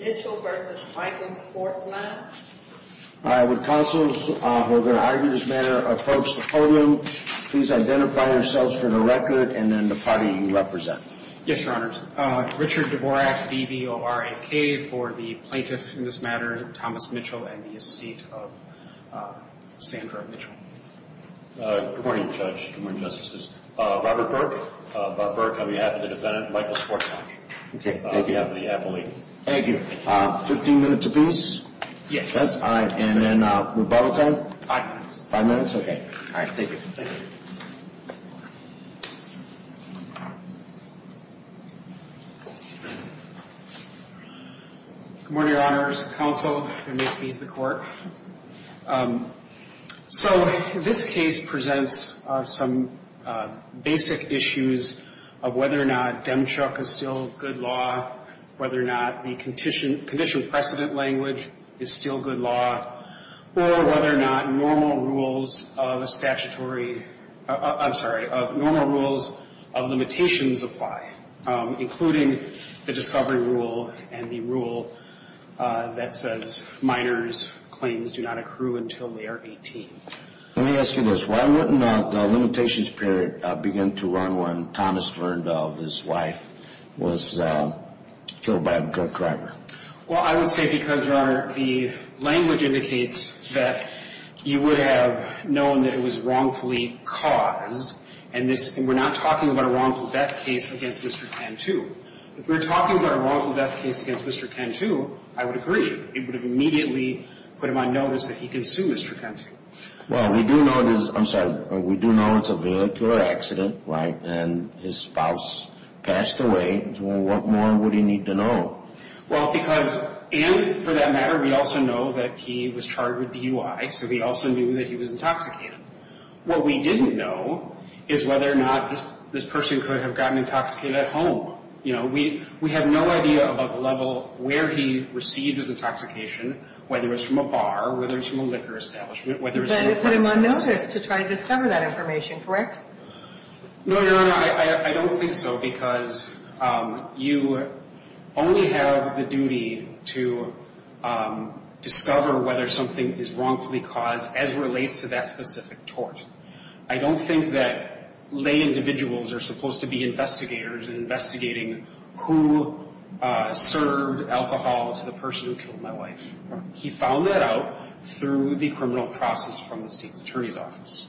Mitchell v. Michael's Sports Lounge All right, would counsels, who are going to argue this matter, approach the podium. Please identify yourselves for the record and then the party you represent. Yes, Your Honors. Richard Dvorak, D-V-O-R-A-K, for the plaintiff in this matter, Thomas Mitchell, and the estate of Sandra Mitchell. Good morning, Judge. Good morning, Justices. Robert Burke. Robert Burke, on behalf of the defendant, Michael's Sports Lounge. Okay, thank you. On behalf of the appellee. Thank you. Fifteen minutes, please. Yes. All right, and then rebuttal time? Five minutes. Five minutes, okay. All right, thank you. Thank you. Good morning, Your Honors, counsel, and may it please the Court. So this case presents some basic issues of whether or not Demchuk is still good law, whether or not the condition precedent language is still good law, or whether or not normal rules of a statutory, I'm sorry, normal rules of limitations apply, including the discovery rule and the rule that says minors' claims do not accrue until they are 18. Let me ask you this. Why wouldn't the limitations period begin to run when Thomas Verndahl, his wife, was killed by a gun driver? Well, I would say because, Your Honor, the language indicates that you would have known that it was wrongfully caused, and we're not talking about a wrongful death case against Mr. Cantu. If we were talking about a wrongful death case against Mr. Cantu, I would agree. It would have immediately put him on notice that he can sue Mr. Cantu. Well, we do know this is – I'm sorry. We do know it's a vehicular accident, right, and his spouse passed away. What more would he need to know? Well, because – and for that matter, we also know that he was charged with DUI, so we also knew that he was intoxicated. What we didn't know is whether or not this person could have gotten intoxicated at home. You know, we have no idea about the level where he received his intoxication, whether it was from a bar, whether it was from a liquor establishment, whether it was from a friend's house. But it put him on notice to try and discover that information, correct? No, Your Honor, I don't think so, because you only have the duty to discover whether something is wrongfully caused as relates to that specific tort. I don't think that lay individuals are supposed to be investigators in investigating who served alcohol to the person who killed my wife. He found that out through the criminal process from the state's attorney's office.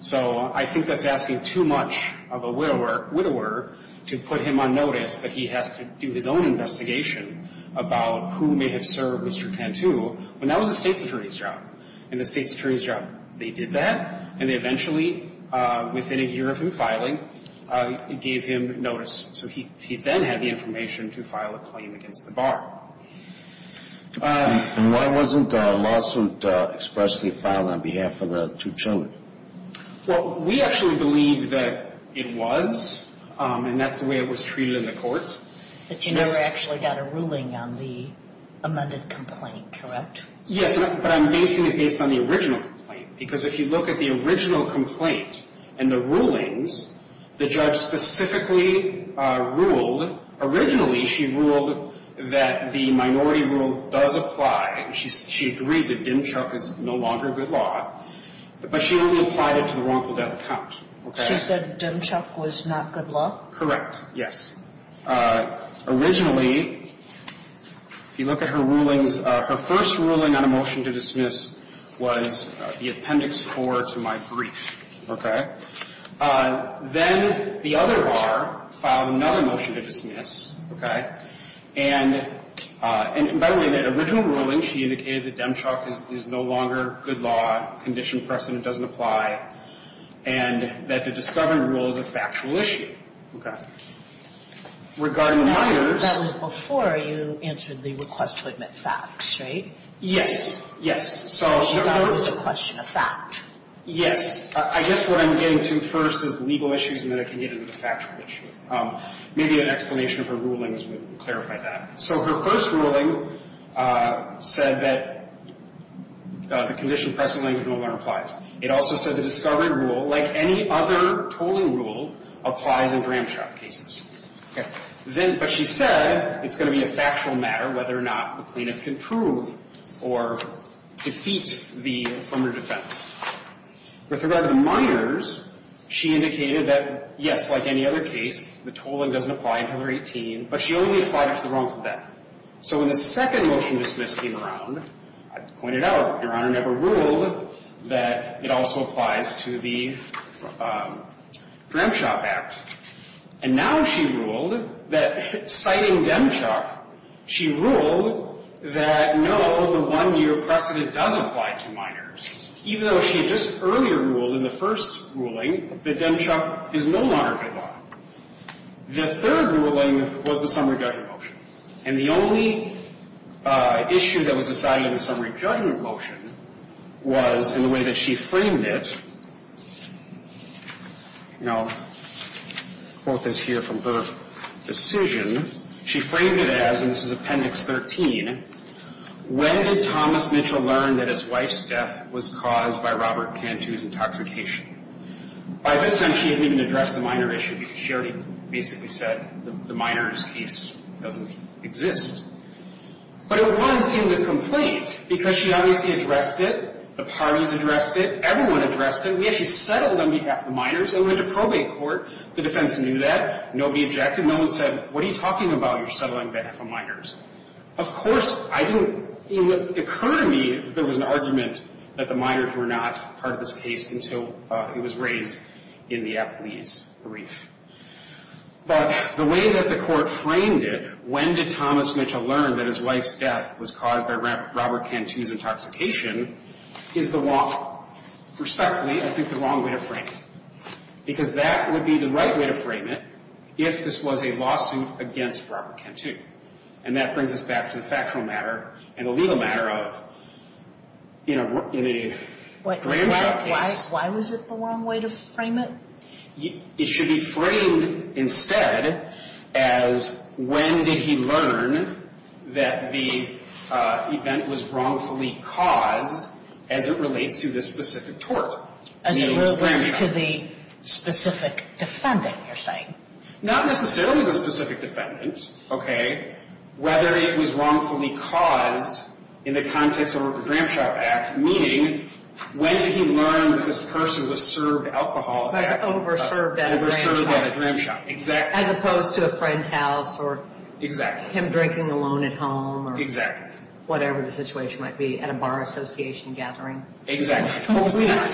So I think that's asking too much of a widower to put him on notice that he has to do his own investigation about who may have served Mr. Cantu when that was the state's attorney's job. And the state's attorney's job, they did that, and they eventually, within a year of him filing, gave him notice. So he then had the information to file a claim against the bar. And why wasn't a lawsuit expressly filed on behalf of the two children? Well, we actually believe that it was, and that's the way it was treated in the courts. But you never actually got a ruling on the amended complaint, correct? Yes, but I'm basing it based on the original complaint, because if you look at the original complaint and the rulings, the judge specifically ruled, originally she ruled that the minority rule does apply. She agreed that dim chuck is no longer good law, but she only applied it to the wrongful death count, okay? She said dim chuck was not good law? Correct, yes. Originally, if you look at her rulings, her first ruling on a motion to dismiss was the appendix 4 to my brief, okay? Then the other bar filed another motion to dismiss, okay? And by the way, that original ruling, she indicated that dim chuck is no longer good law, condition precedent doesn't apply, and that the discovery rule is a factual issue, okay? Regarding the minors. That was before you answered the request to admit facts, right? Yes. So she thought it was a question of fact. Yes. I guess what I'm getting to first is the legal issues, and then I can get into the factual issue. Maybe an explanation of her rulings would clarify that. So her first ruling said that the condition precedent language no longer applies. It also said the discovery rule, like any other tolling rule, applies in dram chuck cases. Okay. Then, but she said it's going to be a factual matter whether or not the plaintiff can prove or defeat the affirmative defense. With regard to minors, she indicated that, yes, like any other case, the tolling doesn't apply until they're 18, but she only applied it to the wrongful death. So when the second motion to dismiss came around, I pointed out Your Honor never ruled that it also applies to the dram chuck act. And now she ruled that citing dram chuck, she ruled that no, the one-year precedent does apply to minors, even though she had just earlier ruled in the first ruling that dram chuck is no longer good law. The third ruling was the summary judgment motion, and the only issue that was decided in the summary judgment motion was in the way that she framed it. Now, quote this here from her decision. She framed it as, and this is Appendix 13, when did Thomas Mitchell learn that his wife's death was caused by Robert Cantu's intoxication? By this time, she hadn't even addressed the minor issue, because she already basically said the minor's case doesn't exist. But it was in the complaint, because she obviously addressed it, the parties addressed it, everyone addressed it. We actually settled on behalf of the minors and went to probate court. The defense knew that. Nobody objected. No one said, what are you talking about? You're settling on behalf of minors. Of course, I didn't, it occurred to me that there was an argument that the minors were not part of this case until it was raised in the Apley's brief. But the way that the court framed it, when did Thomas Mitchell learn that his wife's death was caused by Robert Cantu's intoxication, is the wrong, respectfully, I think the wrong way to frame it. Because that would be the right way to frame it if this was a lawsuit against Robert Cantu. And that brings us back to the factual matter and the legal matter of, you know, in a grand matter case. Why was it the wrong way to frame it? It should be framed instead as when did he learn that the event was wrongfully caused as it relates to this specific tort? As it relates to the specific defendant, you're saying? Not necessarily the specific defendant, okay? Whether it was wrongfully caused in the context of a Gramsci Act, meaning, when did he learn that this person was served alcohol? Overserved at a Gramsci. Exactly. As opposed to a friend's house or him drinking alone at home or whatever the situation might be at a bar association gathering. Exactly. Hopefully not.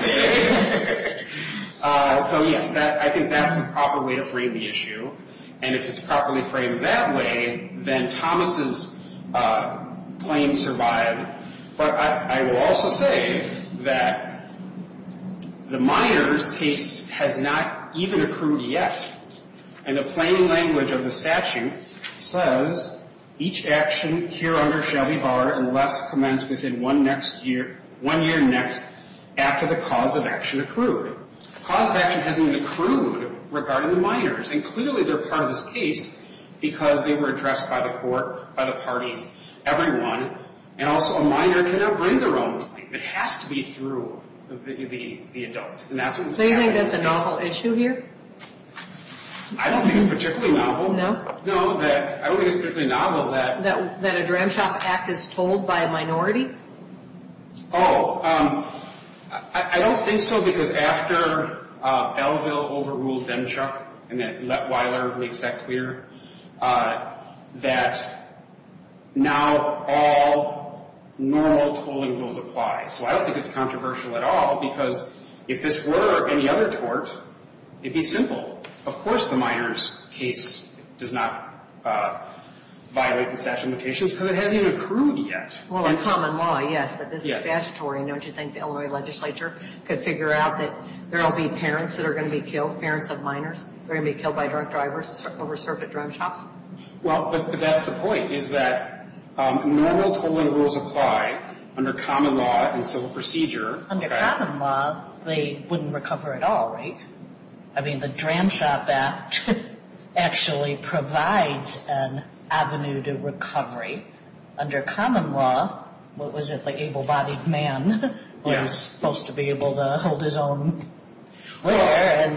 So, yes, I think that's the proper way to frame the issue. And if it's properly framed that way, then Thomas's claim survived. But I will also say that the Miners case has not even accrued yet. And the plain language of the statute says, each action here under shall be barred unless commenced within one next year, one year next after the cause of action accrued. The cause of action hasn't even accrued regarding the Miners. And clearly they're part of this case because they were addressed by the court, by the parties, everyone. And also a Miner cannot bring their own claim. It has to be through the adult. So you think that's a novel issue here? I don't think it's particularly novel. No? No, I don't think it's particularly novel that... That a Gramsci Act is told by a minority? Oh, I don't think so because after Belleville overruled Demchuck and then now all normal tolling rules apply. So I don't think it's controversial at all because if this were any other tort, it'd be simple. Of course the Miners case does not violate the statute of limitations because it hasn't even accrued yet. Well, in common law, yes. But this is statutory. And don't you think the Illinois legislature could figure out that there will be parents that are going to be killed, parents of Miners that are going to be killed by drunk drivers over served at drum shops? Well, but that's the point, is that normal tolling rules apply under common law and civil procedure. Under common law, they wouldn't recover at all, right? I mean, the Drum Shop Act actually provides an avenue to recovery. Under common law, what was it, the able-bodied man was supposed to be able to hold his own where?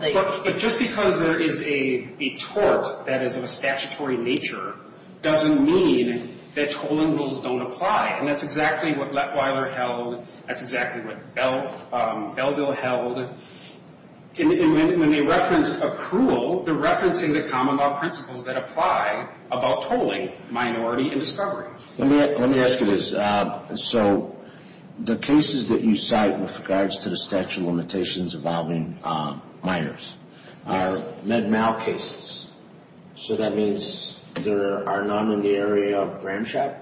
But just because there is a tort that is of a statutory nature doesn't mean that tolling rules don't apply. And that's exactly what Lettweiler held. That's exactly what Bellville held. And when they reference accrual, they're referencing the common law principles that apply about tolling, minority, and discovery. Let me ask you this. So the cases that you cite with regards to the statute of limitations involving Miners are Med-Mal cases. So that means there are none in the area of Drum Shop?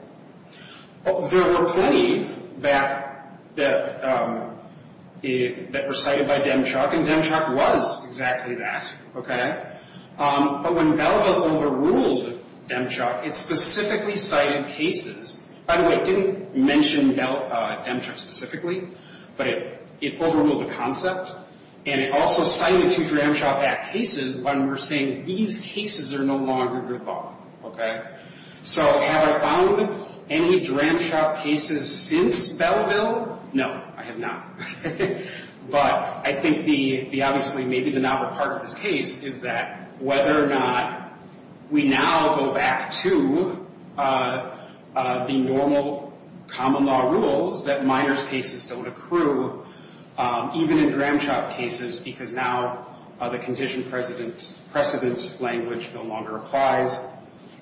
There were plenty that were cited by Demchok, and Demchok was exactly that, okay? But when Bellville overruled Demchok, it specifically cited cases. By the way, it didn't mention Demchok specifically, but it overruled the concept, and it also cited two Drum Shop Act cases when we're saying these cases are no longer good law, okay? So have I found any Drum Shop cases since Bellville? No, I have not. But I think the, obviously, maybe the novel part of this case is that whether or not we now go back to the normal common law rules that Miners cases don't accrue, even in Drum Shop cases because now the condition precedent language no longer applies.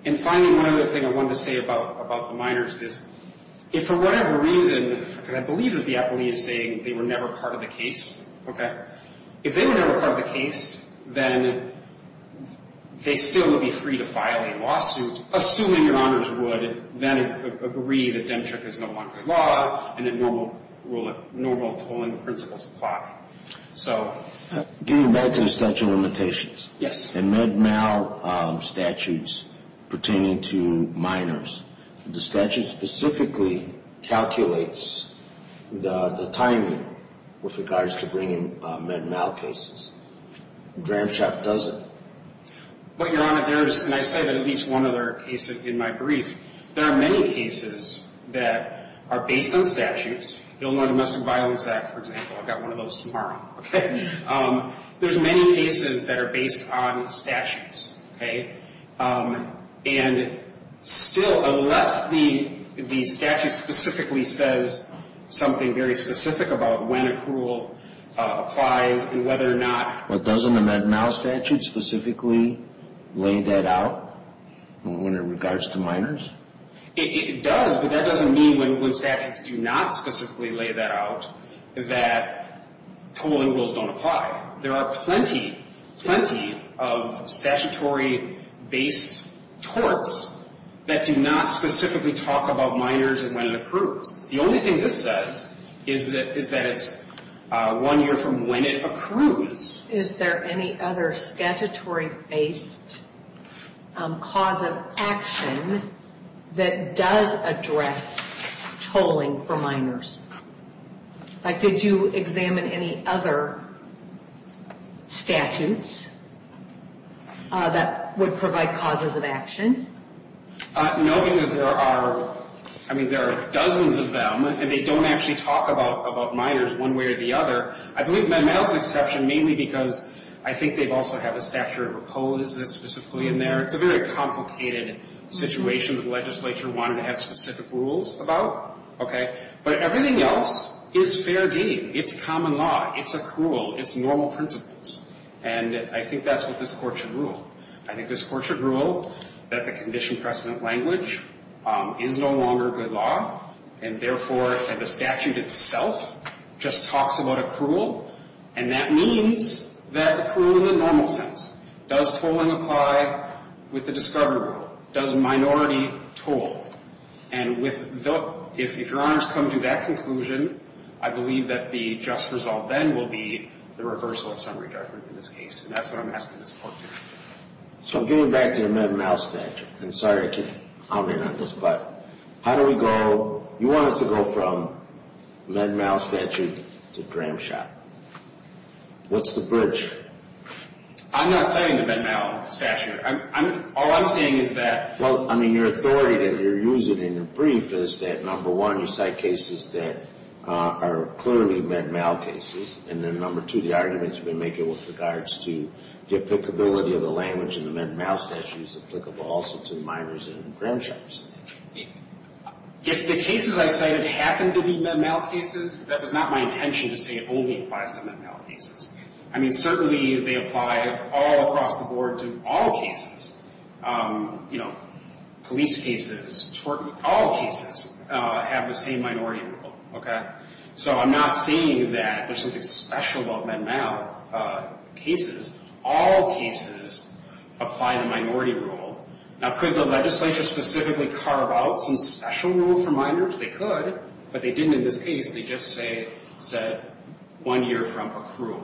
And finally, one other thing I wanted to say about the Miners is if for whatever reason, because I believe that the appellee is saying they were never part of the case, okay, if they were never part of the case, then they still would be free to file a lawsuit, assuming your honors would then agree that Demchok is no longer law and that normal tolling principles apply. So. Getting back to the statute of limitations. Yes. In Med-Mal statutes pertaining to Miners, the statute specifically calculates the timing with regards to bringing Med-Mal cases. Drum Shop doesn't. But, Your Honor, there is, and I say that at least one other case in my brief, there are many cases that are based on statutes. The Illinois Domestic Violence Act, for example, I've got one of those tomorrow, okay? There's many cases that are based on statutes, okay? And still, unless the statute specifically says something very specific about when approval applies and whether or not. Well, doesn't the Med-Mal statute specifically lay that out when it regards to Miners? It does, but that doesn't mean when statutes do not specifically lay that out that tolling rules don't apply. There are plenty, plenty of statutory-based torts that do not specifically talk about Miners and when it accrues. The only thing this says is that it's one year from when it accrues. Is there any other statutory-based cause of action that does address tolling for Miners? Like, did you examine any other statutes that would provide causes of action? No, because there are, I mean, there are dozens of them, and they don't actually talk about Miners one way or the other. I believe Med-Mal's an exception mainly because I think they also have a statute of repose that's specifically in there. It's a very complicated situation that the legislature wanted to have specific rules about, okay? But everything else is fair game. It's common law. It's accrual. It's normal principles. And I think that's what this Court should rule. I think this Court should rule that the condition precedent language is no longer good law, and, therefore, that the statute itself just talks about accrual, and that means that accrual in the normal sense. Does tolling apply with the discovery rule? Does minority toll? And if Your Honors come to that conclusion, I believe that the just result then will be the reversal of summary judgment in this case, and that's what I'm asking this Court to do. So getting back to the Med-Mal statute, I'm sorry I can't comment on this, but how do we go? You want us to go from Med-Mal statute to Dram Shop. What's the bridge? I'm not saying the Med-Mal statute. All I'm saying is that. Well, I mean, your authority that you're using in your brief is that, number one, you cite cases that are clearly Med-Mal cases, and then, number two, the arguments you've been making with regards to the applicability of the language in the Med-Mal statute is applicable also to minors in Dram Shops. If the cases I cited happen to be Med-Mal cases, that was not my intention to say it only applies to Med-Mal cases. I mean, certainly they apply all across the board to all cases. You know, police cases, tort cases, all cases have the same minority rule, okay? So I'm not saying that there's something special about Med-Mal cases. All cases apply the minority rule. Now, could the legislature specifically carve out some special rule for minors? They could, but they didn't in this case. They just said one year from accrual.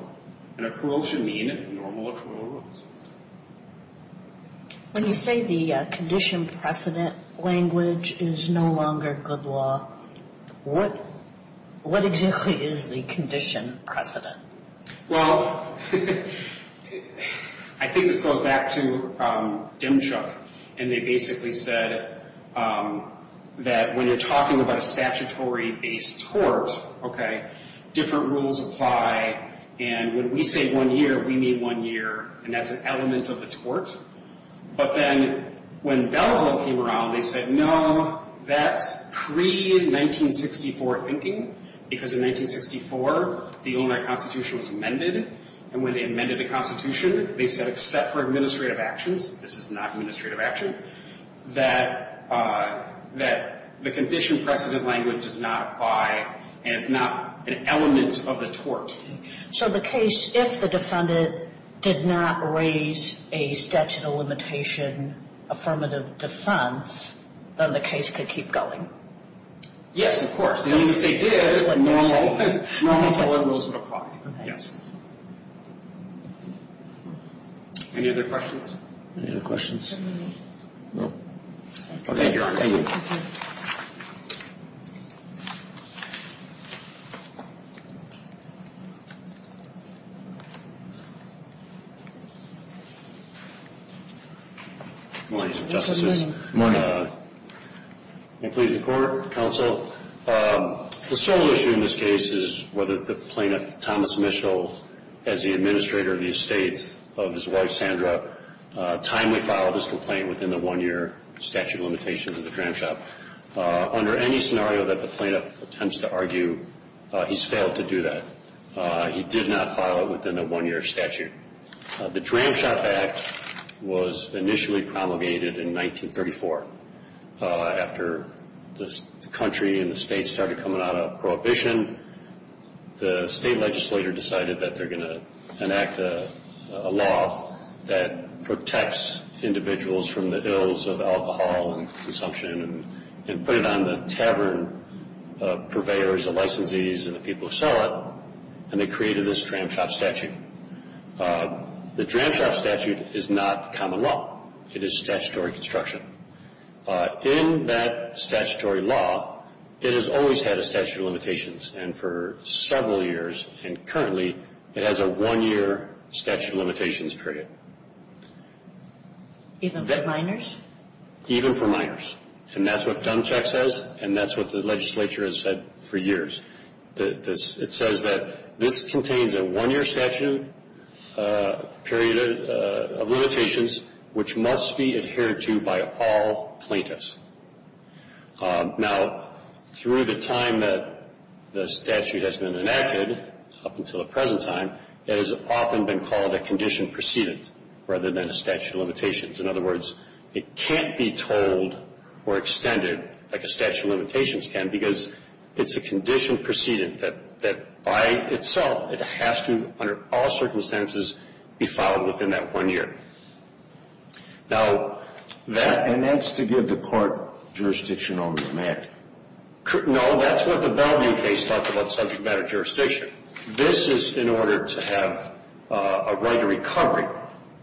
And accrual should mean normal accrual rules. When you say the condition precedent language is no longer good law, what exactly is the condition precedent? Well, I think this goes back to Dimchuk, and they basically said that when you're talking about a statutory-based tort, okay, different rules apply, and when we say one year, we mean one year, and that's an element of the tort. But then when Bellevue came around, they said, no, that's pre-1964 thinking, because in 1964 the Illinois Constitution was amended, and when they amended the Constitution, they said except for administrative actions, this is not administrative action, that the condition precedent language does not apply, and it's not an element of the tort. So the case, if the defendant did not raise a statute of limitation affirmative defense, then the case could keep going? Yes, of course. As long as they did, normal tort rules would apply, yes. Any other questions? Any other questions? No. Thank you, Your Honor. Thank you. Good morning, Justices. Good morning. May it please the Court, Counsel. The sole issue in this case is whether the plaintiff, Thomas Mischel, as the administrator of the estate of his wife, Sandra, timely filed his complaint within the one-year statute of limitation of the Dram Shop. Under any scenario that the plaintiff attempts to argue, he's failed to do that. He did not file it within a one-year statute. The Dram Shop Act was initially promulgated in 1934. After the country and the state started coming out of prohibition, the state legislature decided that they're going to enact a law that protects individuals from the ills of alcohol and consumption and put it on the tavern purveyors, the licensees, and the people who sell it, and they created this Dram Shop statute. The Dram Shop statute is not common law. It is statutory construction. In that statutory law, it has always had a statute of limitations, and for several years, and currently, it has a one-year statute of limitations period. Even for minors? Even for minors. And that's what Dump Check says, and that's what the legislature has said for years. It says that this contains a one-year statute period of limitations, which must be adhered to by all plaintiffs. Now, through the time that the statute has been enacted, up until the present time, it has often been called a condition precedent rather than a statute of limitations. In other words, it can't be told or extended like a statute of limitations can because it's a condition precedent that, by itself, it has to, under all circumstances, be filed within that one year. And that's to give the court jurisdiction over the matter. No, that's what the Bellevue case talked about, subject matter jurisdiction. This is in order to have a right of recovery.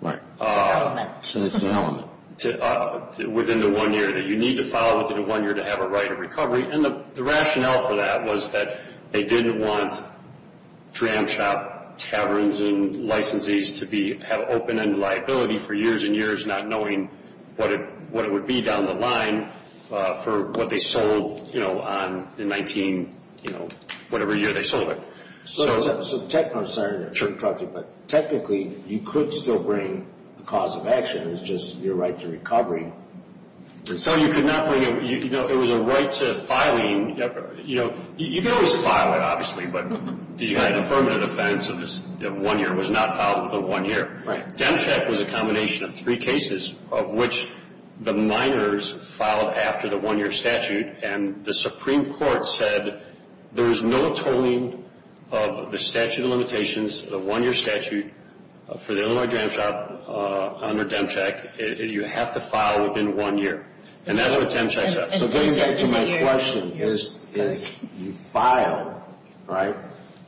Right. It's an element. It's an element. Within the one year that you need to file within the one year to have a right of recovery, and the rationale for that was that they didn't want tram shop taverns and licensees to have open-end liability for years and years, not knowing what it would be down the line for what they sold on the 19-whatever year they sold it. So technically, you could still bring the cause of action. It's just your right to recovery. So you could not bring it. It was a right to filing. You could always file it, obviously, but the United Affirmative Defense of one year was not filed within one year. Right. Demcheck was a combination of three cases of which the minors filed after the one-year statute, and the Supreme Court said there was no tolling of the statute of limitations, the one-year statute, for the Illinois tram shop under Demcheck. You have to file within one year, and that's what Demcheck says. So getting back to my question, is you file, right?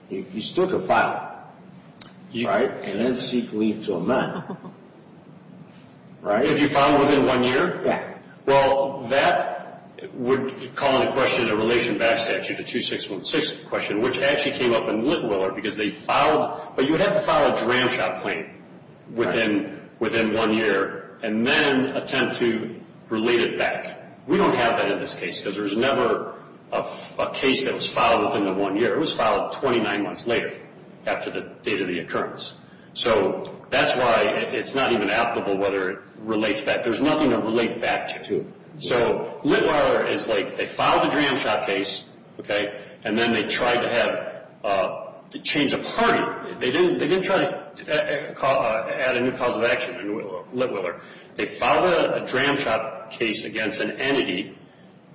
You still could file, right? And then seek leave to amend, right? If you file within one year? Yeah. Well, that would call into question a relation back statute, the 2616 question, which actually came up in Littweller because they filed, but you would have to file a tram shop claim within one year and then attempt to relate it back. We don't have that in this case because there was never a case that was filed within the one year. It was filed 29 months later after the date of the occurrence. So that's why it's not even applicable whether it relates back. There's nothing to relate back to. So Littweller is like they filed the tram shop case, okay, and then they tried to change a party. They didn't try to add a new cause of action to Littweller. They filed a tram shop case against an entity.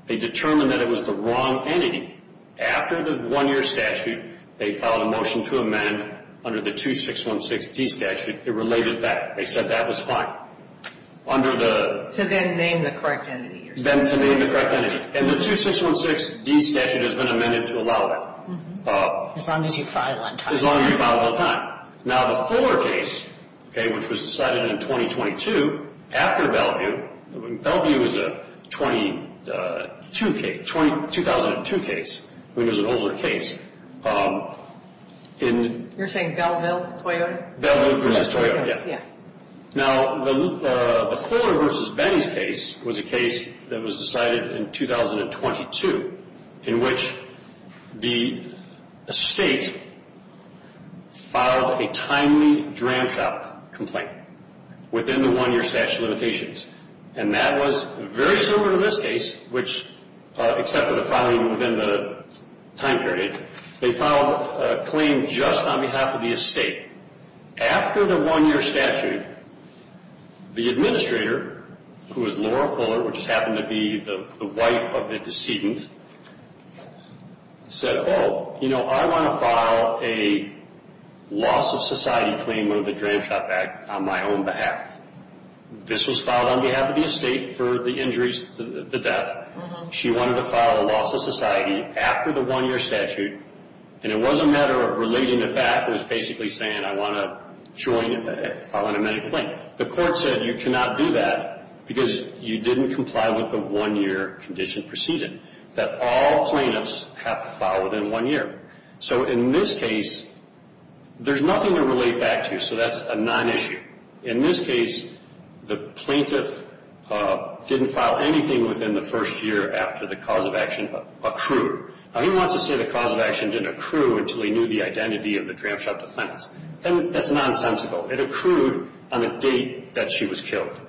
They determined that it was the wrong entity. After the one-year statute, they filed a motion to amend under the 2616D statute. It related back. They said that was fine. To then name the correct entity. Then to name the correct entity. And the 2616D statute has been amended to allow it. As long as you file on time. As long as you file on time. Now the Fuller case, okay, which was decided in 2022 after Bellevue. Bellevue was a 2002 case. It was an older case. You're saying Belleville-Toyota? Belleville versus Toyota, yeah. Now the Fuller versus Benny's case was a case that was decided in 2022. In which the estate filed a timely tram shop complaint. Within the one-year statute of limitations. And that was very similar to this case. Which except for the filing within the time period. They filed a claim just on behalf of the estate. After the one-year statute, the administrator, who was Laura Fuller. Which just happened to be the wife of the decedent. Said, oh, you know, I want to file a loss of society claim under the tram shop act. On my own behalf. This was filed on behalf of the estate for the injuries, the death. She wanted to file a loss of society after the one-year statute. And it was a matter of relating it back. It was basically saying I want to join and file an amended claim. The court said you cannot do that. Because you didn't comply with the one-year condition preceded. That all plaintiffs have to file within one year. So in this case, there's nothing to relate back to. So that's a non-issue. In this case, the plaintiff didn't file anything within the first year after the cause of action accrued. Now, he wants to say the cause of action didn't accrue until he knew the identity of the tram shop defendants. That's nonsensical. It accrued on the date that she was killed.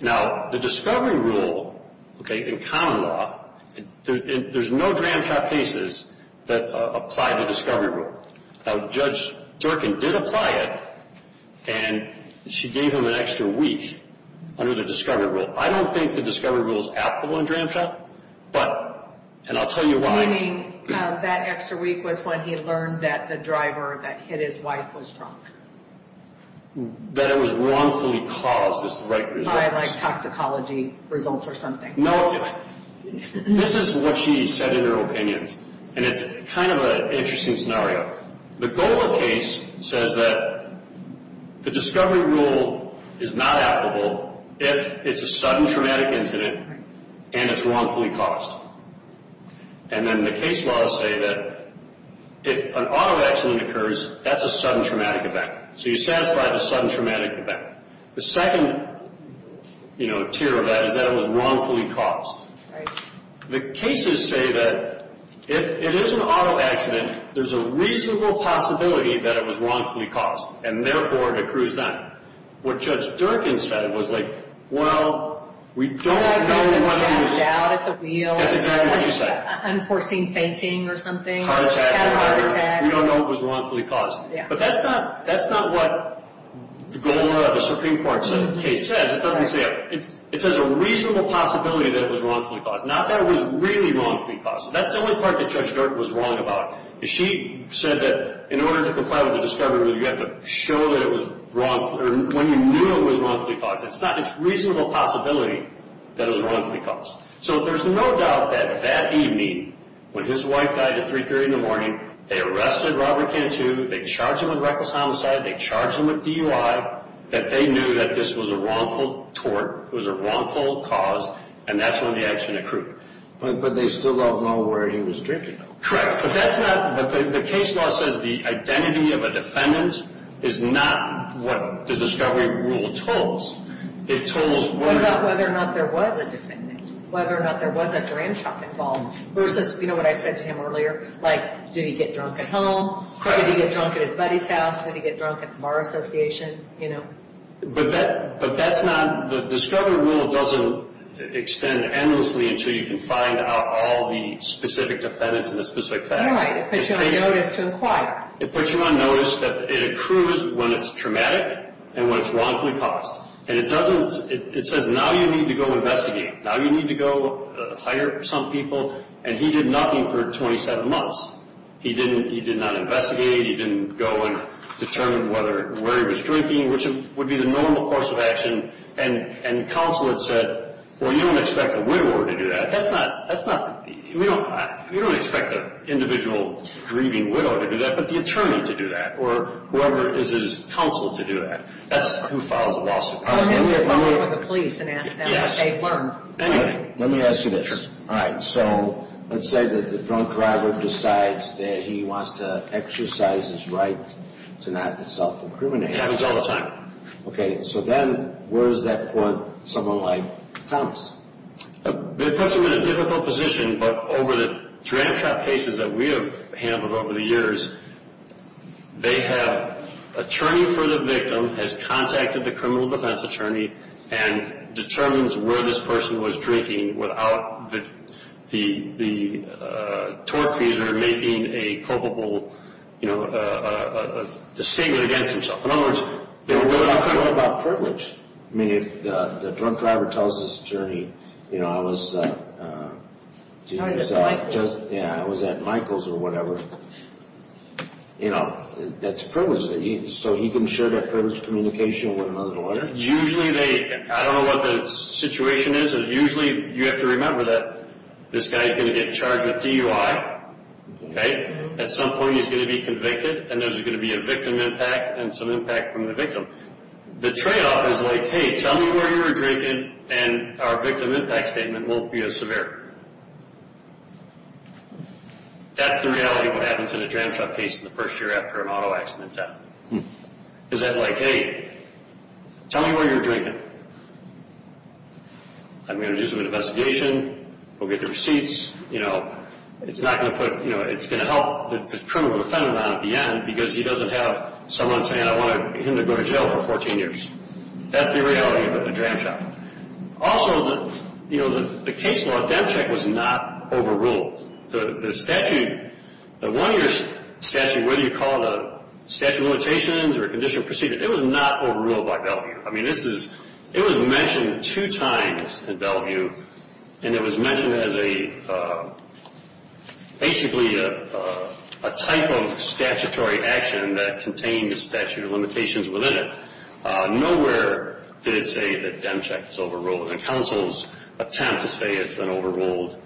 Now, the discovery rule, okay, in common law, there's no tram shop cases that apply the discovery rule. Now, Judge Durkin did apply it. And she gave him an extra week under the discovery rule. I don't think the discovery rule is applicable in tram shop. But, and I'll tell you why. Meaning that extra week was when he learned that the driver that hit his wife was drunk. That it was wrongfully caused. I like toxicology results or something. No, this is what she said in her opinions. And it's kind of an interesting scenario. The GOLA case says that the discovery rule is not applicable if it's a sudden traumatic incident and it's wrongfully caused. And then the case laws say that if an auto accident occurs, that's a sudden traumatic event. So you satisfy the sudden traumatic event. The second, you know, tier of that is that it was wrongfully caused. Right. The cases say that if it is an auto accident, there's a reasonable possibility that it was wrongfully caused. And therefore, it accrues that. What Judge Durkin said was like, well, we don't know when it was. Passed out at the wheel. That's exactly what she said. Unforeseen fainting or something. Heart attack. We don't know it was wrongfully caused. But that's not what the GOLA, the Supreme Court case says. It doesn't say it. It says a reasonable possibility that it was wrongfully caused. Not that it was really wrongfully caused. That's the only part that Judge Durkin was wrong about. She said that in order to comply with the discovery rule, you have to show that it was wrongfully or when you knew it was wrongfully caused. It's not a reasonable possibility that it was wrongfully caused. So there's no doubt that that evening, when his wife died at 3.30 in the morning, they arrested Robert Cantu. They charged him with reckless homicide. They charged him with DUI. That they knew that this was a wrongful tort, it was a wrongful cause, and that's when the action occurred. But they still don't know where he was drinking, though. Correct. But that's not, the case law says the identity of a defendant is not what the discovery rule tells. It tells whether or not there was a defendant, whether or not there was a grandchild involved. Versus, you know what I said to him earlier? Like, did he get drunk at home? Correct. Did he get drunk at his buddy's house? Did he get drunk at the bar association? You know. But that's not, the discovery rule doesn't extend endlessly until you can find out all the specific defendants and the specific facts. Right. It puts you on notice to inquire. It puts you on notice that it accrues when it's traumatic and when it's wrongfully caused. And it doesn't, it says now you need to go investigate. Now you need to go hire some people. And he did nothing for 27 months. He didn't, he did not investigate. He didn't go and determine whether, where he was drinking, which would be the normal course of action. And counsel had said, well, you don't expect a widower to do that. That's not, that's not, we don't, we don't expect an individual grieving widow to do that. But the attorney to do that. Or whoever is his counsel to do that. That's who files the lawsuit. Well, maybe they'll call the police and ask them. Yes. They've learned. Anyway. Let me ask you this. Sure. All right. So, let's say that the drunk driver decides that he wants to exercise his right to not self-incriminate. It happens all the time. Okay. So then, where does that put someone like Thomas? It puts him in a difficult position. But over the dramatic cases that we have handled over the years, they have attorney for the victim has contacted the criminal defense attorney and determines where this person was drinking without the tortfeasor making a culpable, you know, a statement against himself. In other words, they don't know about privilege. I mean, if the drunk driver tells his attorney, you know, I was at Michael's or whatever, you know, that's privilege. So he can share that privilege communication with another lawyer? Usually they, I don't know what the situation is, but usually you have to remember that this guy is going to get charged with DUI, okay? At some point, he's going to be convicted, and there's going to be a victim impact and some impact from the victim. The tradeoff is like, hey, tell me where you were drinking, and our victim impact statement won't be as severe. That's the reality of what happens in a dramatized case in the first year after an auto accident death. Is that like, hey, tell me where you were drinking. I'm going to do some investigation. We'll get the receipts. You know, it's not going to put, you know, it's going to help the criminal defendant on at the end because he doesn't have someone saying I want him to go to jail for 14 years. That's the reality of a dram shop. Also, you know, the case law, Demcheck, was not overruled. The statute, the one year statute, whether you call it a statute of limitations or a conditional procedure, it was not overruled by Bellevue. I mean, it was mentioned two times in Bellevue, and it was mentioned as basically a type of statutory action that contained a statute of limitations within it. Nowhere did it say that Demcheck was overruled. And counsel's attempt to say it's been overruled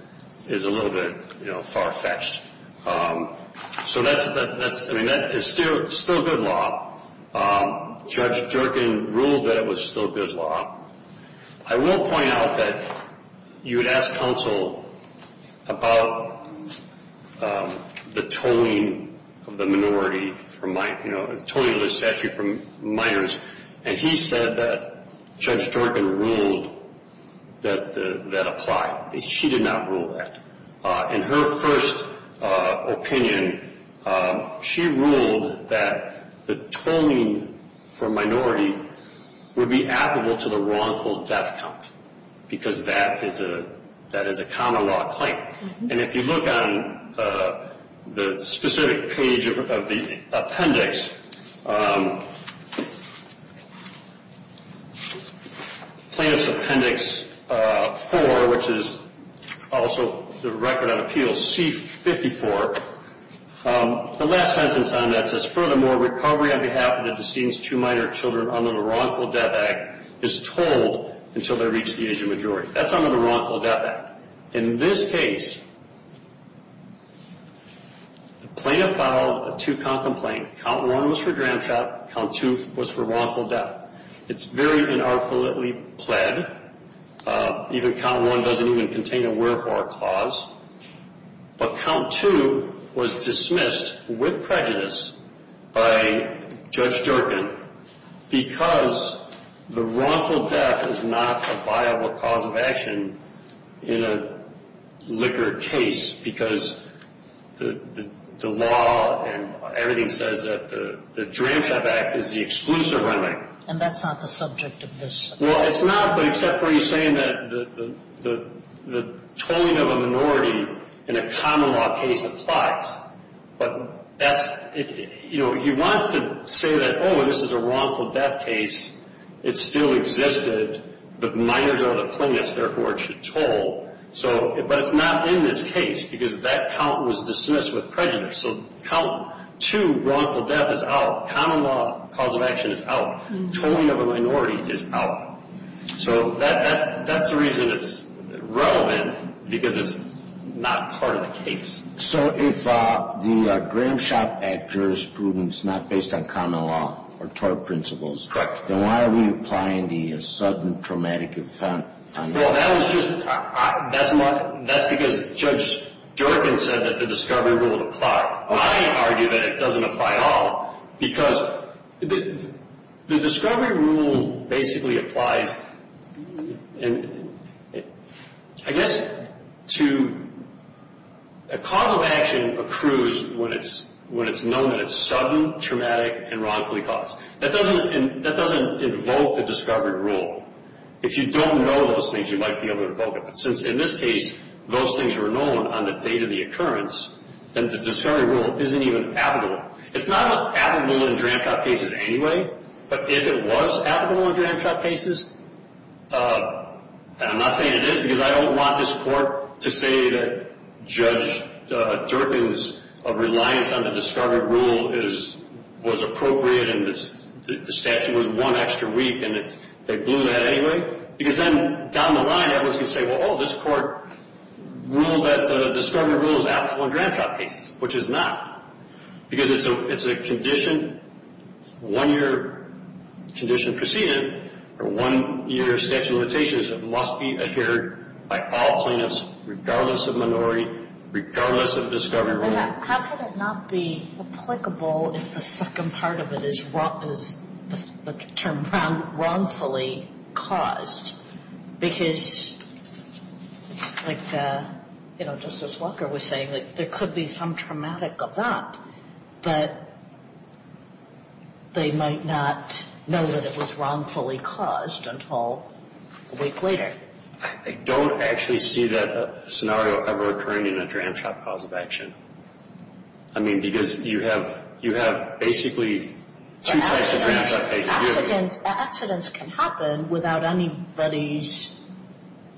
is a little bit, you know, far-fetched. So that's, I mean, that is still good law. Judge Jerkin ruled that it was still good law. I will point out that you had asked counsel about the tolling of the minority from, you know, Judge Jerkin ruled that that applied. She did not rule that. In her first opinion, she ruled that the tolling for minority would be applicable to the wrongful death count because that is a common law claim. And if you look on the specific page of the appendix, Plaintiff's Appendix 4, which is also the record on appeals, C-54, the last sentence on that says, Furthermore, recovery on behalf of the decedent's two minor children under the Wrongful Death Act is tolled until they reach the age of majority. That's under the Wrongful Death Act. In this case, the plaintiff filed a two-count complaint. Count 1 was for dramtrap. Count 2 was for wrongful death. It's very unarthritically pled. Even Count 1 doesn't even contain a wherefore clause. But Count 2 was dismissed with prejudice by Judge Jerkin because the wrongful death is not a viable cause of action in a liquor case because the law and everything says that the Dramtrap Act is the exclusive remedy. And that's not the subject of this. Well, it's not, but except for he's saying that the tolling of a minority in a common law case applies. But he wants to say that, oh, this is a wrongful death case. It still existed. The minors are the plaintiffs, therefore it should toll. But it's not in this case because that count was dismissed with prejudice. So Count 2, wrongful death, is out. Common law cause of action is out. Tolling of a minority is out. So that's the reason it's relevant because it's not part of the case. So if the Dramtrap Act jurisprudence is not based on common law or tort principles, then why are we applying the sudden traumatic event? Well, that's because Judge Jerkin said that the discovery rule would apply. I argue that it doesn't apply at all because the discovery rule basically applies, and I guess to a cause of action accrues when it's known that it's sudden, traumatic, and wrongfully caused. That doesn't invoke the discovery rule. If you don't know those things, you might be able to invoke it. But since in this case those things were known on the date of the occurrence, then the discovery rule isn't even applicable. It's not applicable in Dramtrap cases anyway. But if it was applicable in Dramtrap cases, and I'm not saying it is because I don't want this court to say that Judge Jerkin's reliance on the discovery rule was appropriate and the statute was one extra week and they blew that anyway, because then down the line everyone's going to say, well, oh, this court ruled that the discovery rule is applicable in Dramtrap cases, which it's not, because it's a condition, one-year condition preceded or one-year statute of limitations that must be adhered by all plaintiffs regardless of minority, regardless of discovery rule. How could it not be applicable if the second part of it is the term wrongfully caused? Because, like, you know, Justice Walker was saying, like, there could be some traumatic event, but they might not know that it was wrongfully caused until a week later. I don't actually see that scenario ever occurring in a Dramtrap cause of action. I mean, because you have basically two types of Dramtrap cases. Accidents can happen without anybody's,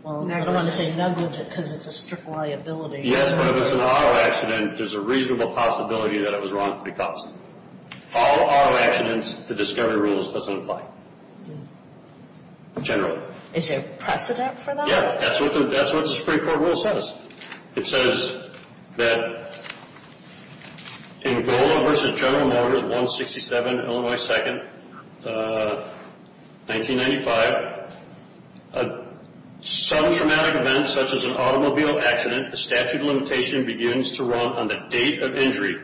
well, I don't want to say negligence because it's a strict liability. Yes, but if it's an auto accident, there's a reasonable possibility that it was wrongfully caused. All auto accidents, the discovery rule doesn't apply generally. Is there precedent for that? Yeah, that's what the Supreme Court rule says. It says that in Gola v. General Motors, 167, Illinois 2nd, 1995, a sudden traumatic event such as an automobile accident, the statute of limitation begins to run on the date of injury.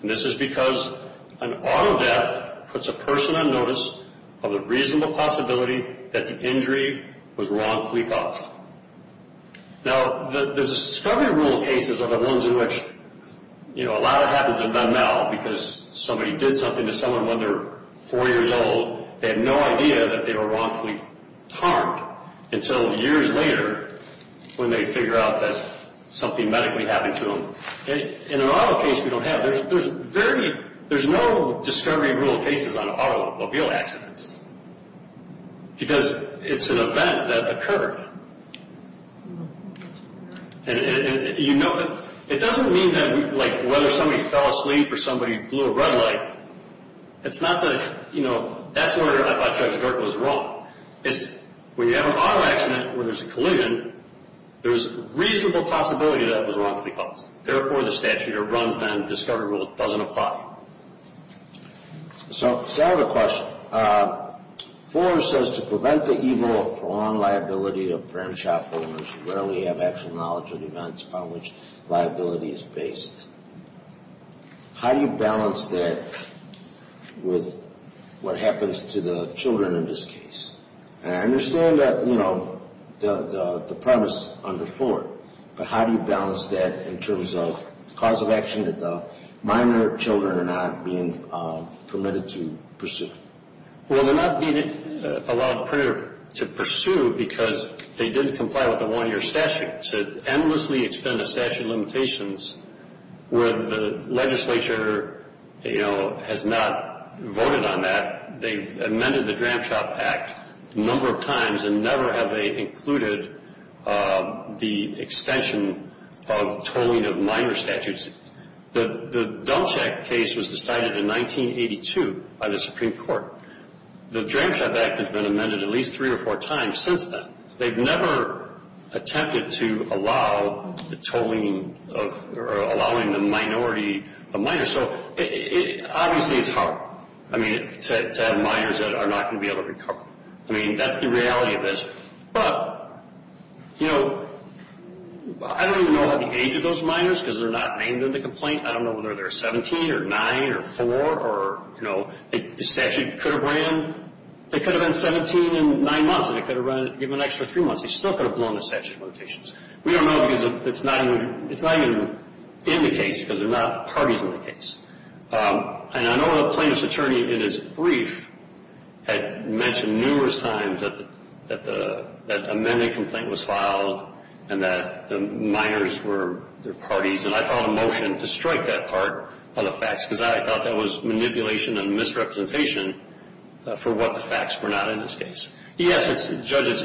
And this is because an auto death puts a person on notice of the reasonable possibility that the injury was wrongfully caused. Now, the discovery rule cases are the ones in which, you know, a lot of it happens in mental because somebody did something to someone when they were 4 years old. They had no idea that they were wrongfully harmed until years later when they figure out that something medically happened to them. In an auto case, we don't have. There's very, there's no discovery rule cases on automobile accidents because it's an event that occurred. And you know, it doesn't mean that, like, whether somebody fell asleep or somebody blew a red light. It's not that, you know, that's where I thought Judge Durk was wrong. It's when you have an auto accident where there's a collision, there's a reasonable possibility that it was wrongfully caused. Therefore, the statute of runs on the discovery rule doesn't apply. So I have a question. Ford says to prevent the evil of prolonged liability of brand shop owners who rarely have actual knowledge of events upon which liability is based. How do you balance that with what happens to the children in this case? And I understand that, you know, the premise under Ford, but how do you balance that in terms of the cause of action that the minor children are not being permitted to pursue? Well, they're not being allowed to pursue because they didn't comply with the one-year statute. To endlessly extend the statute of limitations where the legislature, you know, has not voted on that, they've amended the Dram Shop Act a number of times and never have they included the extension of tolling of minor statutes. The Dulcheck case was decided in 1982 by the Supreme Court. The Dram Shop Act has been amended at least three or four times since then. They've never attempted to allow the tolling of or allowing the minority of minors. So obviously it's hard, I mean, to have minors that are not going to be able to recover. I mean, that's the reality of this. But, you know, I don't even know the age of those minors because they're not named in the complaint. I don't know whether they're 17 or 9 or 4 or, you know, the statute could have ran. They could have been 17 and 9 months and it could have given them an extra three months. They still could have blown the statute of limitations. We don't know because it's not even in the case because there are not parties in the case. And I know the plaintiff's attorney in his brief had mentioned numerous times that the amended complaint was filed and that the minors were the parties. And I filed a motion to strike that part of the facts because I thought that was manipulation and misrepresentation for what the facts were not in this case. Yes, judges,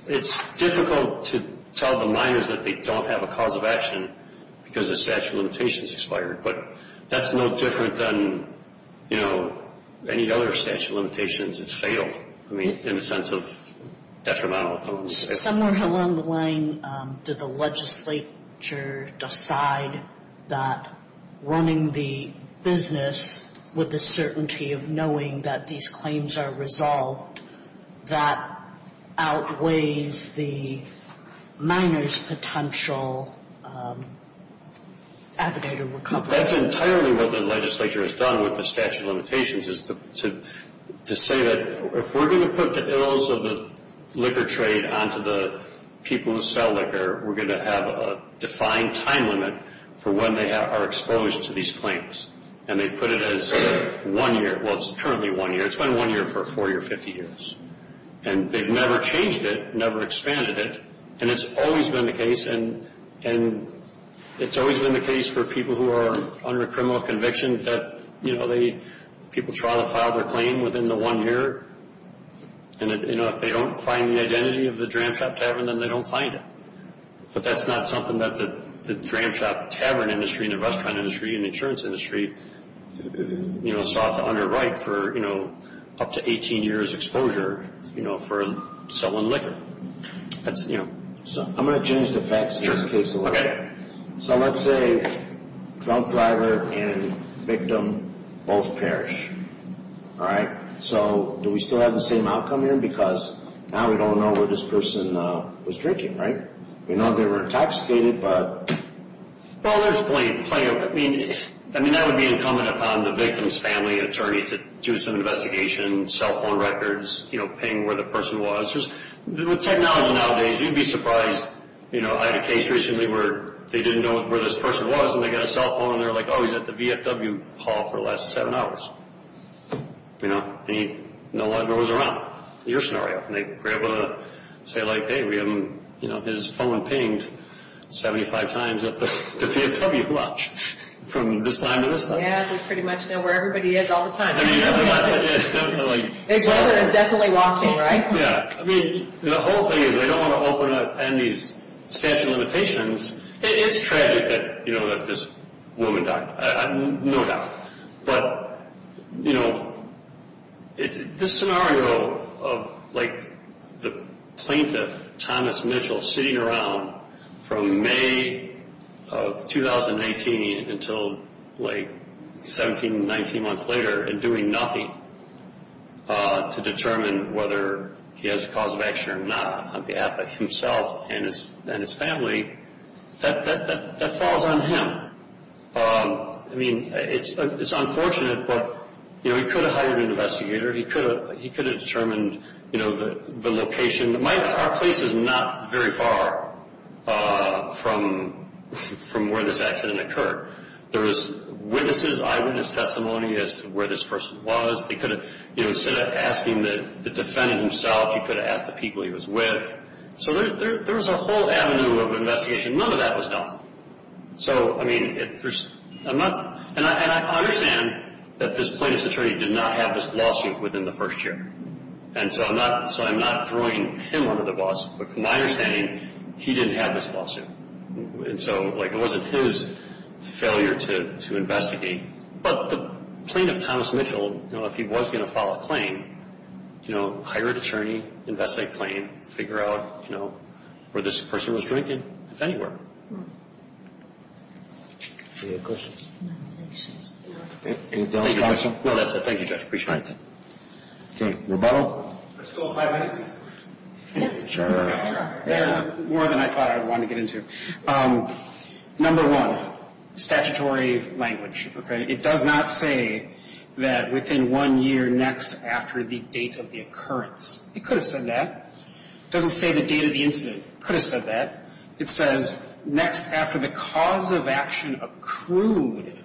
it's difficult to tell the minors that they don't have a cause of action because the statute of limitations expired. But that's no different than, you know, any other statute of limitations. It's fatal, I mean, in the sense of detrimental. Somewhere along the line, did the legislature decide that running the business with the certainty of knowing that these claims are resolved, that outweighs the minor's potential affidavit of recovery? That's entirely what the legislature has done with the statute of limitations is to say that if we're going to put the ills of the liquor trade onto the people who sell liquor, we're going to have a defined time limit for when they are exposed to these claims. And they put it as one year. Well, it's currently one year. It's been one year for 40 or 50 years. And they've never changed it, never expanded it, and it's always been the case. And it's always been the case for people who are under a criminal conviction that, you know, people try to file their claim within the one year. And, you know, if they don't find the identity of the Dram Shop Tavern, then they don't find it. But that's not something that the Dram Shop Tavern industry and the restaurant industry and the insurance industry, you know, sought to underwrite for, you know, up to 18 years' exposure, you know, for selling liquor. That's, you know. I'm going to change the facts in this case a little bit. Okay. So let's say drunk driver and victim both perish, all right? So do we still have the same outcome here? Because now we don't know where this person was drinking, right? We know they were intoxicated, but... Well, there's plenty of... I mean, that would be incumbent upon the victim's family attorney to do some investigation, cell phone records, you know, ping where the person was. With technology nowadays, you'd be surprised. You know, I had a case recently where they didn't know where this person was, and they got a cell phone, and they were like, oh, he's at the VFW hall for the last seven hours. You know, and he no longer was around. Your scenario. And they were able to say, like, hey, we have him, you know, his phone pinged 75 times at the VFW, watch, from this time to this time. Yeah, they pretty much know where everybody is all the time. I mean, they watch it, and they're like... Each other is definitely watching, right? Yeah. I mean, the whole thing is they don't want to open up Andy's statute of limitations. It is tragic that, you know, that this woman died, no doubt. But, you know, this scenario of, like, the plaintiff, Thomas Mitchell, sitting around from May of 2019 until, like, 17, 19 months later and doing nothing to determine whether he has a cause of action or not on behalf of himself and his family, that falls on him. I mean, it's unfortunate, but, you know, he could have hired an investigator. He could have determined, you know, the location. Our place is not very far from where this accident occurred. There was witnesses, eyewitness testimony as to where this person was. They could have, you know, instead of asking the defendant himself, he could have asked the people he was with. So there was a whole avenue of investigation. None of that was done. So, I mean, I'm not – and I understand that this plaintiff's attorney did not have this lawsuit within the first year. And so I'm not throwing him under the bus, but from my understanding, he didn't have this lawsuit. And so, like, it wasn't his failure to investigate. But the plaintiff, Thomas Mitchell, you know, if he was going to file a claim, you know, hire an attorney, investigate the claim, figure out, you know, where this person was drinking, if anywhere. Any other questions? Any other questions? No, that's it. Thank you, Judge. Appreciate it. Okay. Rebuttal? Still five minutes? Yes. More than I thought I would want to get into. Number one, statutory language, okay? It does not say that within one year next after the date of the occurrence. It could have said that. It doesn't say the date of the incident. It could have said that. It says next after the cause of action accrued.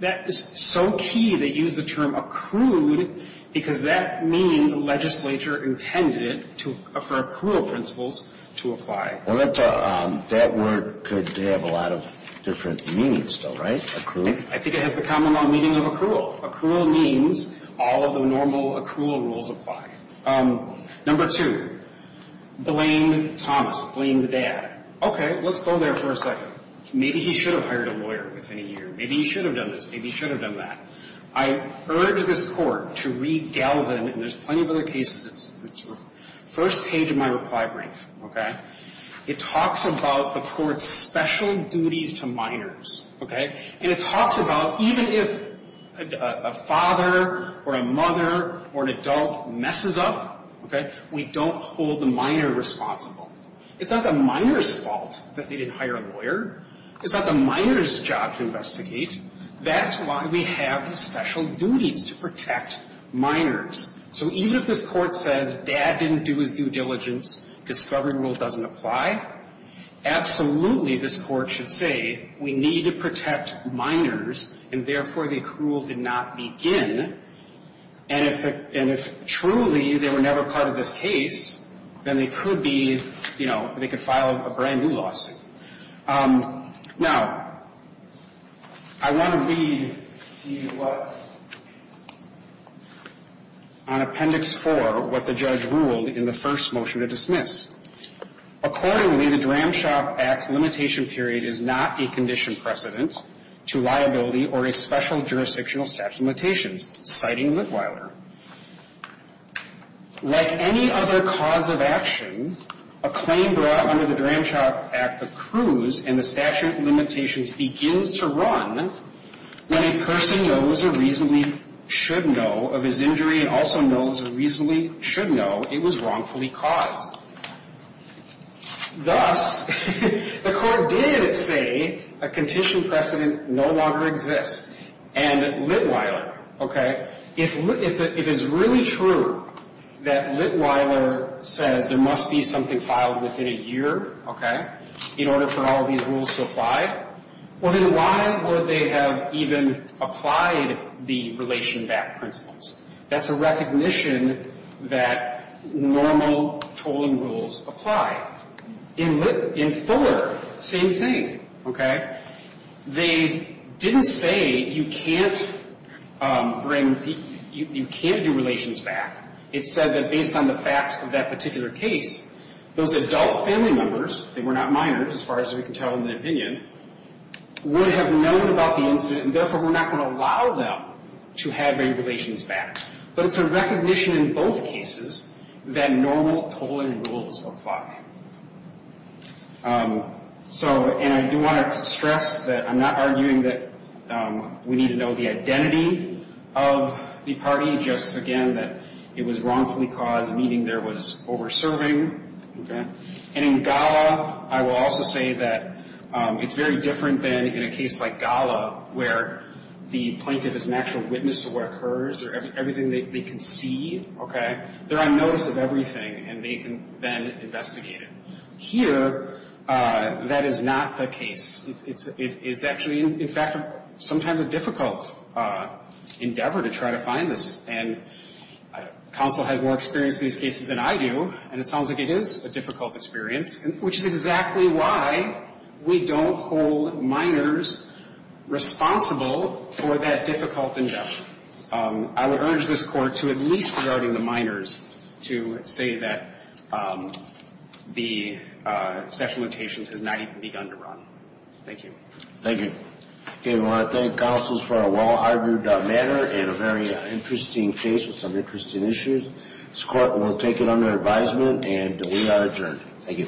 That is so key, they use the term accrued because that means the legislature intended it for accrual principles to apply. Well, that word could have a lot of different meanings, though, right? I think it has the common law meaning of accrual. Accrual means all of the normal accrual rules apply. Number two, blame Thomas. Blame the dad. Okay, let's go there for a second. Maybe he should have hired a lawyer within a year. Maybe he should have done this. Maybe he should have done that. I urge this Court to read Galvin, and there's plenty of other cases. It's the first page of my reply brief, okay? It talks about the Court's special duties to minors, okay? And it talks about even if a father or a mother or an adult messes up, okay, we don't hold the minor responsible. It's not the minor's fault that they didn't hire a lawyer. It's not the minor's job to investigate. That's why we have special duties to protect minors. So even if this Court says dad didn't do his due diligence, discovery rule doesn't apply, absolutely this Court should say we need to protect minors, and therefore the accrual did not begin. And if truly they were never part of this case, then they could be, you know, they could file a brand-new lawsuit. Now, I want to read to you what, on Appendix 4, what the judge ruled in the first motion to dismiss. Accordingly, the Dramshop Act's limitation period is not a condition precedent to liability or a special jurisdictional statute of limitations, citing Whitwiler. Like any other cause of action, a claim brought under the Dramshop Act accrues and the statute of limitations begins to run when a person knows or reasonably should know of his injury and also knows or reasonably should know it was wrongfully caused. Thus, the Court did say a condition precedent no longer exists. And Litwiler, okay, if it's really true that Litwiler says there must be something filed within a year, okay, in order for all of these rules to apply, well, then why would they have even applied the relation back principles? That's a recognition that normal tolling rules apply. In Litwiler, same thing, okay? They didn't say you can't bring the – you can't do relations back. It said that based on the facts of that particular case, those adult family members, they were not minors as far as we can tell in the opinion, would have known about the incident and therefore were not going to allow them to have any relations back. But it's a recognition in both cases that normal tolling rules apply. So, and I do want to stress that I'm not arguing that we need to know the identity of the party, just, again, that it was wrongfully caused, meaning there was over-serving, okay? And in Gala, I will also say that it's very different than in a case like Gala, where the plaintiff is an actual witness to what occurs or everything they can see, okay? They're on notice of everything, and they can then investigate it. Here, that is not the case. It's actually, in fact, sometimes a difficult endeavor to try to find this. And counsel has more experience in these cases than I do, and it sounds like it is a difficult experience, which is exactly why we don't hold minors responsible for that difficult endeavor. I would urge this Court to at least regarding the minors to say that the special limitations has not even begun to run. Thank you. Thank you. Okay, we want to thank counsels for a well-argued matter and a very interesting case with some interesting issues. This Court will take it under advisement, and we are adjourned. Thank you.